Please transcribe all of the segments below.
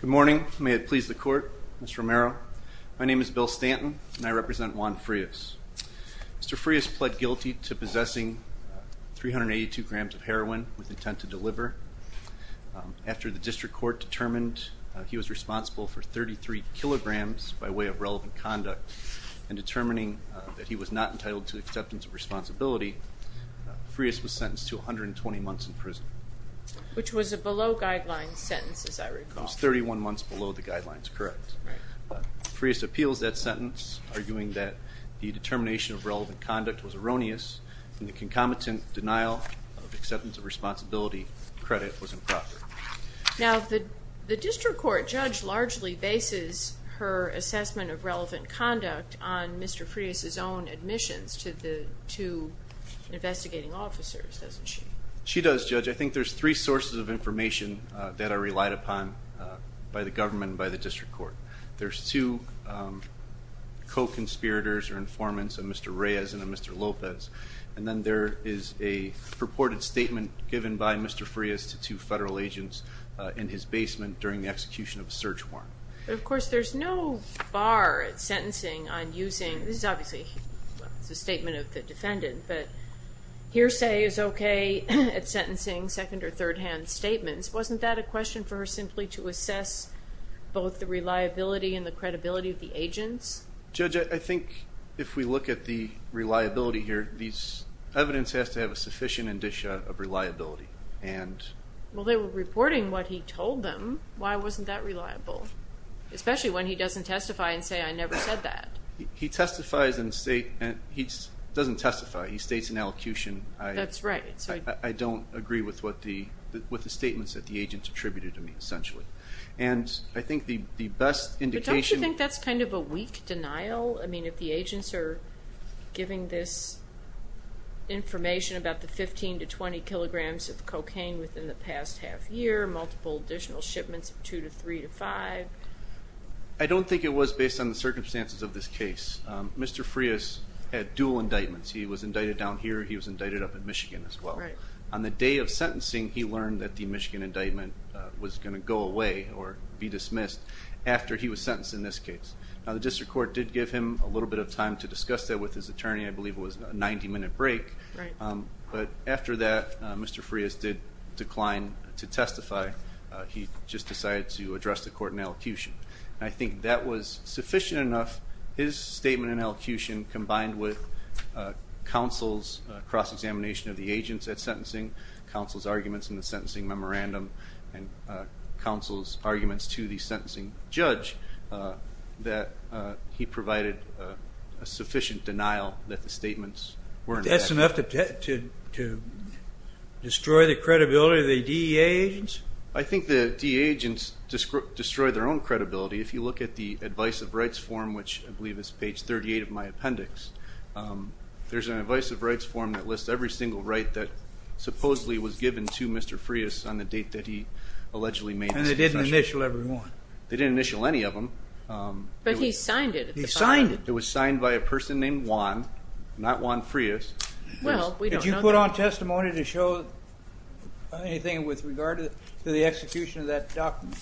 Good morning. May it please the court. Mr. Romero, my name is Bill Stanton and I represent Juan Frias. Mr. Frias pled guilty to possessing 382 grams of heroin with intent to deliver. After the district court determined he was responsible for 33 kilograms by way of relevant conduct and determining that he was not entitled to acceptance of responsibility, Frias was sentenced to 120 months in prison. Which was a below guidelines sentence, as I recall. It was 31 months below the guidelines, correct. Frias appeals that sentence, arguing that the determination of relevant conduct was erroneous and the concomitant denial of acceptance of responsibility credit was improper. Now the district court judge largely bases her assessment of relevant conduct on Mr. Frias' own admissions to the two investigating officers, doesn't she? She does, Judge. I think there's three sources of information that are relied upon by the government and by the district court. There's two co-conspirators or informants of Mr. Reyes and Mr. Lopez, and then there is a purported statement given by Mr. Frias to two federal agents in his basement during the execution of a search warrant. But of course there's no bar at sentencing on using, this is obviously a statement of the defendant, but hearsay is okay at sentencing second or third hand statements. Wasn't that a question for her simply to assess both the reliability and the credibility of the agents? Judge, I think if we look at the reliability here, these evidence has to have a sufficient indicia of reliability. Well they were reporting what he told them. Why wasn't that reliable? Especially when he doesn't testify and say I never said that. He testifies and states, he doesn't testify, he states an elocution. That's right. I don't agree with what the statements that the agents attributed to me essentially. And I think the best indication... But don't you think that's kind of a weak denial? I mean if the agents are giving this information about the 15 to 20 kilograms of cocaine within the past half year, multiple additional shipments of 2 to 3 to 5. I don't think it was based on the circumstances of this case. Mr. Frias had dual indictments. He was indicted down here, he was indicted up at Michigan as well. On the day of sentencing he learned that the Michigan indictment was going to go away or be dismissed after he was sentenced in this case. Now the District Court did give him a little bit of time to discuss that with his attorney. I believe it was a 90 minute break. But after that Mr. Frias did decline to testify. He just decided to address the court in elocution. I think that was sufficient enough, his statement in elocution combined with counsel's cross-examination of the agents at sentencing, counsel's arguments in the provided a sufficient denial that the statements were in effect. That's enough to destroy the credibility of the DEA agents? I think the DEA agents destroyed their own credibility. If you look at the advice of rights form, which I believe is page 38 of my appendix, there's an advice of rights form that lists every single right that supposedly was given to Mr. Frias on the date that he allegedly made the confession. And they didn't initial every one? They didn't initial any of them. But he signed it. He signed it. It was signed by a person named Juan, not Juan Frias. Well, we don't know. Did you put on testimony to show anything with regard to the execution of that document?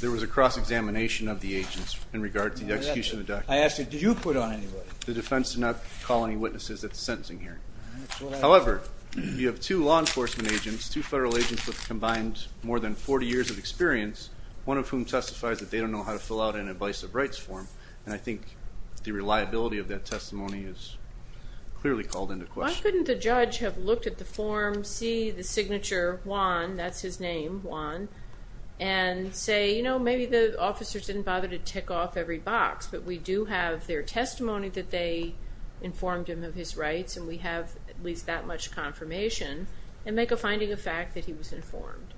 There was a cross-examination of the agents in regard to the execution of the document. I ask you, did you put on any witness? The defense did not call any witnesses at the sentencing hearing. However, you have two law enforcement agents, two federal agents with combined more than 40 years of experience, one of whom testifies that they don't know how to fill out an advice of rights form, and I think the reliability of that testimony is clearly called into question. Why couldn't the judge have looked at the form, see the signature, Juan, that's his name, Juan, and say, you know, maybe the officers didn't bother to tick off every box, but we do have their testimony that they informed him of his rights, and we have at least that much confirmation, and make a finding of fact that he was informed.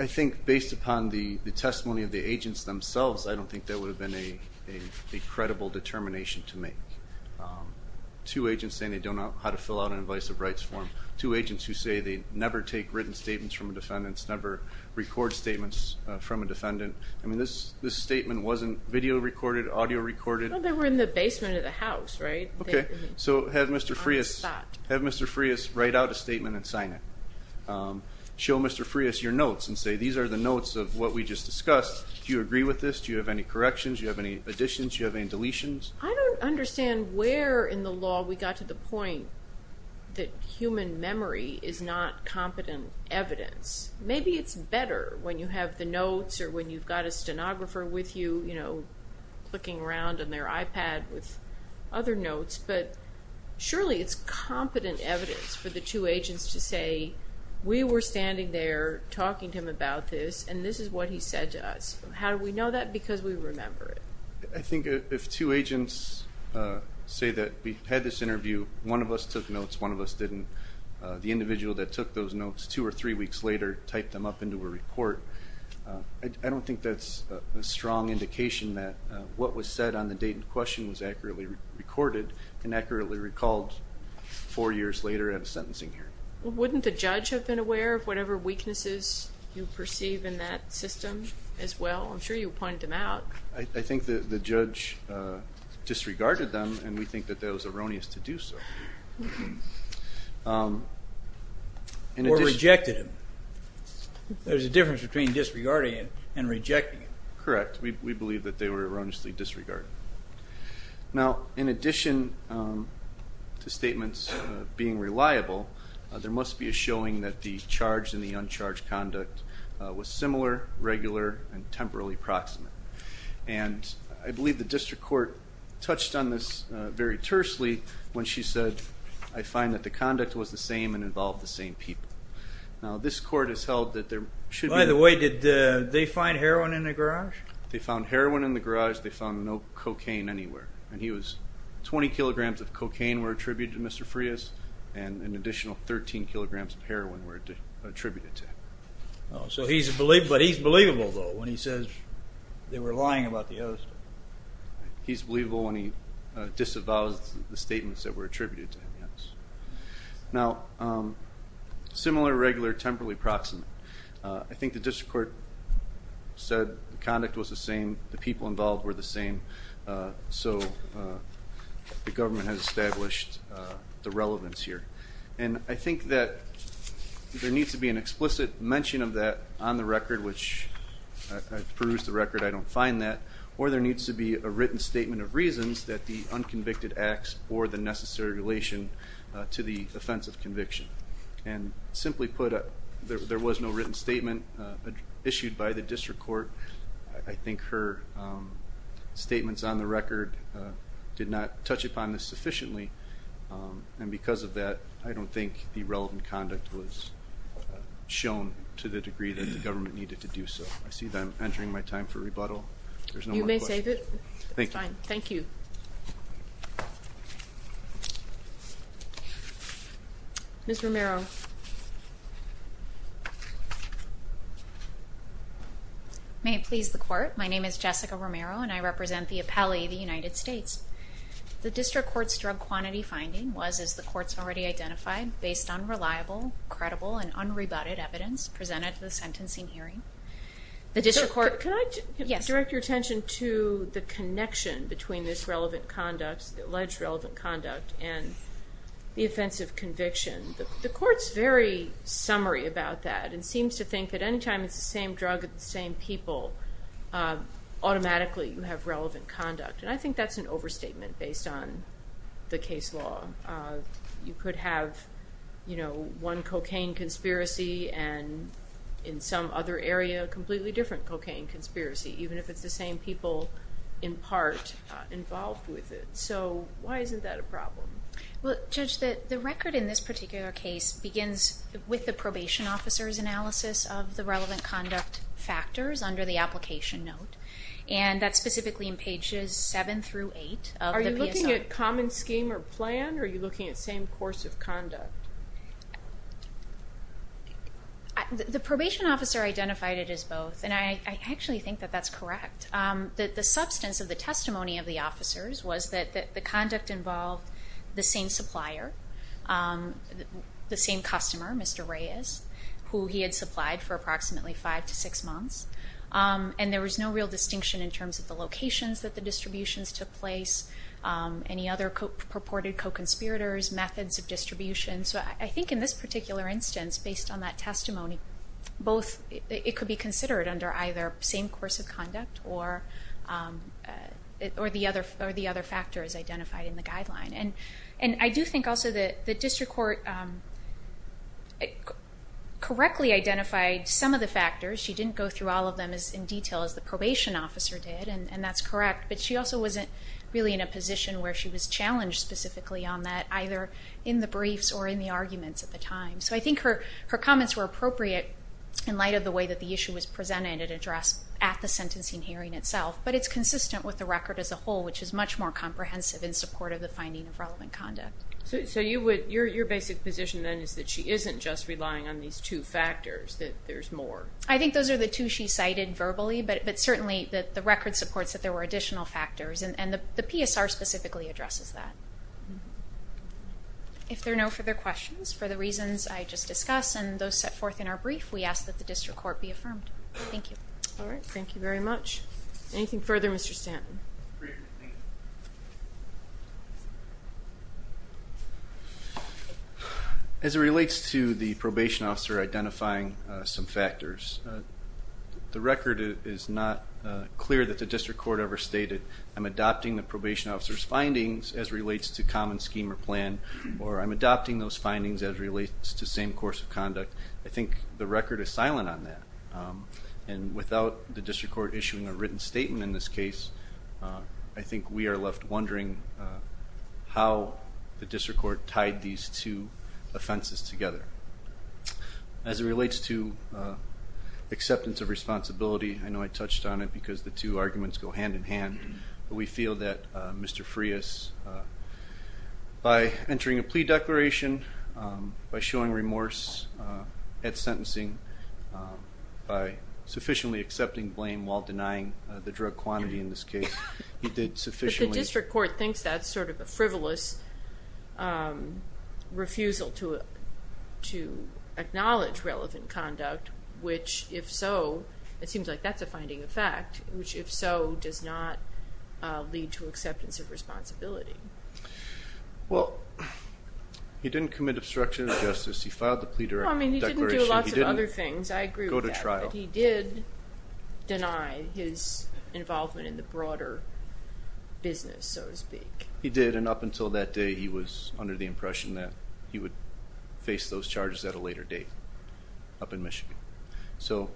I think based upon the testimony of the agents themselves, I don't think that would have been a credible determination to make. Two agents saying they don't know how to fill out an advice of rights form, two agents who say they never take written statements from defendants, never record statements from a defendant. I mean, this statement wasn't video recorded, audio recorded? Well, they were in the basement of the house, right? Okay, so have Mr. Frias write out a statement and sign it. Show Mr. Frias your notes and say, these are the notes of what we just discussed. Do you agree with this? Do you have any corrections? Do you have any additions? Do you have any deletions? I don't understand where in the law we got to the point that human memory is not competent evidence. Maybe it's better when you have the notes, or when you've got a stenographer with you, you have other notes, but surely it's competent evidence for the two agents to say, we were standing there talking to him about this, and this is what he said to us. How do we know that? Because we remember it. I think if two agents say that we had this interview, one of us took notes, one of us didn't, the individual that took those notes two or three weeks later typed them up into a report. I don't think that's a strong indication that what was said on the date in question was accurately recorded and accurately recalled four years later at a sentencing hearing. Wouldn't the judge have been aware of whatever weaknesses you perceive in that system as well? I'm sure you pointed them out. I think that the judge disregarded them and we think that that was erroneous to do so. Or rejected them. There's a difference between disregarding it and rejecting it. Correct. We believe that they were erroneously disregarded. Now in addition to statements being reliable, there must be a showing that the charged and the uncharged conduct was similar, regular, and temporally proximate. And I believe the district court touched on this very tersely when she said, I find that the conduct was the same and involved the same people. Now this court has held that there should be... By the way, did they find heroin in the garage? They found heroin in the garage. They found no cocaine anywhere. And he was, 20 kilograms of cocaine were attributed to Mr. Frias and an additional 13 kilograms of heroin were attributed to him. So he's a believer, but he's believable though when he says they were lying about the host. He's believable when he disavows the statements that were attributed to him. Now similar, regular, temporally proximate. I think the district court said the conduct was the same, the people involved were the same, so the government has established the relevance here. And I think that there needs to be an explicit mention of that on the record, which I produced the record, I don't find that, or there needs to be a written statement of reasons that the unconvicted acts bore the necessary relation to the defense of conviction. And simply put, there was no written statement issued by the district court. I think her statements on the record did not touch upon this sufficiently, and because of that I don't think the relevant conduct was shown to the degree that the government needed to do so. I see that I'm entering my time for rebuttal. There's no more questions. You may save it. Thank you. Ms. Romero. May it please the court, my name is Jessica Romero and I represent the appellee of the United States. The district court's drug quantity finding was, as the courts already identified, based on reliable, credible, and unrebutted evidence presented to the sentencing hearing. The district court... Can I direct your attention to the connection between this relevant conduct, the alleged relevant conviction? The court's very summary about that, and seems to think at any time it's the same drug, same people, automatically you have relevant conduct. And I think that's an overstatement based on the case law. You could have, you know, one cocaine conspiracy and in some other area a completely different cocaine conspiracy, even if it's the same people, in part, involved with it. So why isn't that a particular case begins with the probation officer's analysis of the relevant conduct factors under the application note, and that's specifically in pages 7 through 8. Are you looking at common scheme or plan, or are you looking at same course of conduct? The probation officer identified it as both, and I actually think that that's correct. That the substance of the testimony of the same customer, Mr. Reyes, who he had supplied for approximately five to six months, and there was no real distinction in terms of the locations that the distributions took place, any other purported co-conspirators, methods of distribution. So I think in this particular instance, based on that testimony, both, it could be considered under either same course of conduct or the other factor is identified in the guideline. And I do think also that the district court correctly identified some of the factors. She didn't go through all of them as in detail as the probation officer did, and that's correct, but she also wasn't really in a position where she was challenged specifically on that, either in the briefs or in the arguments at the time. So I think her comments were appropriate in light of the way that the issue was presented and addressed at the sentencing hearing itself, but it's consistent with the record as a whole, which is much more comprehensive in support of the finding of relevant conduct. So you would, your basic position then is that she isn't just relying on these two factors, that there's more. I think those are the two she cited verbally, but certainly that the record supports that there were additional factors, and the PSR specifically addresses that. If there are no further questions, for the reasons I just discussed and those set forth in our brief, we ask that the district court be affirmed. Thank you. All right, thank you very much. Anything further, Mr. Stanton? As it relates to the probation officer identifying some factors, the record is not clear that the district court ever stated, I'm adopting the probation officer's findings as relates to common scheme or plan, or I'm adopting those findings as relates to same course of conduct. I think the record is silent on that, and without the district court issuing a written statement in this case, I think we are left wondering how the district court tied these two offenses together. As it relates to acceptance of responsibility, I know I touched on it because the two arguments go hand in hand, but we feel that Mr. Frias, by sufficiently accepting blame while denying the drug quantity in this case, he did sufficiently... But the district court thinks that's sort of a frivolous refusal to acknowledge relevant conduct, which if so, it seems like that's a finding of fact, which if so, does not lead to acceptance of responsibility. Well, he didn't commit obstruction of justice, he filed the plea declaration, he didn't go to trial. But he did deny his involvement in the broader business, so to speak. He did, and up until that day, he was under the impression that he would face those charges at a later date up in Michigan. So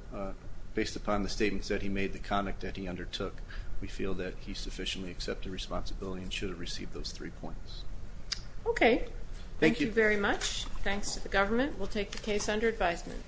based upon the statements that he made, the conduct that he undertook, we feel that he sufficiently accepted responsibility and should have received those three points. Okay, thank you very much. Thanks to the government. We'll take the case under advisement.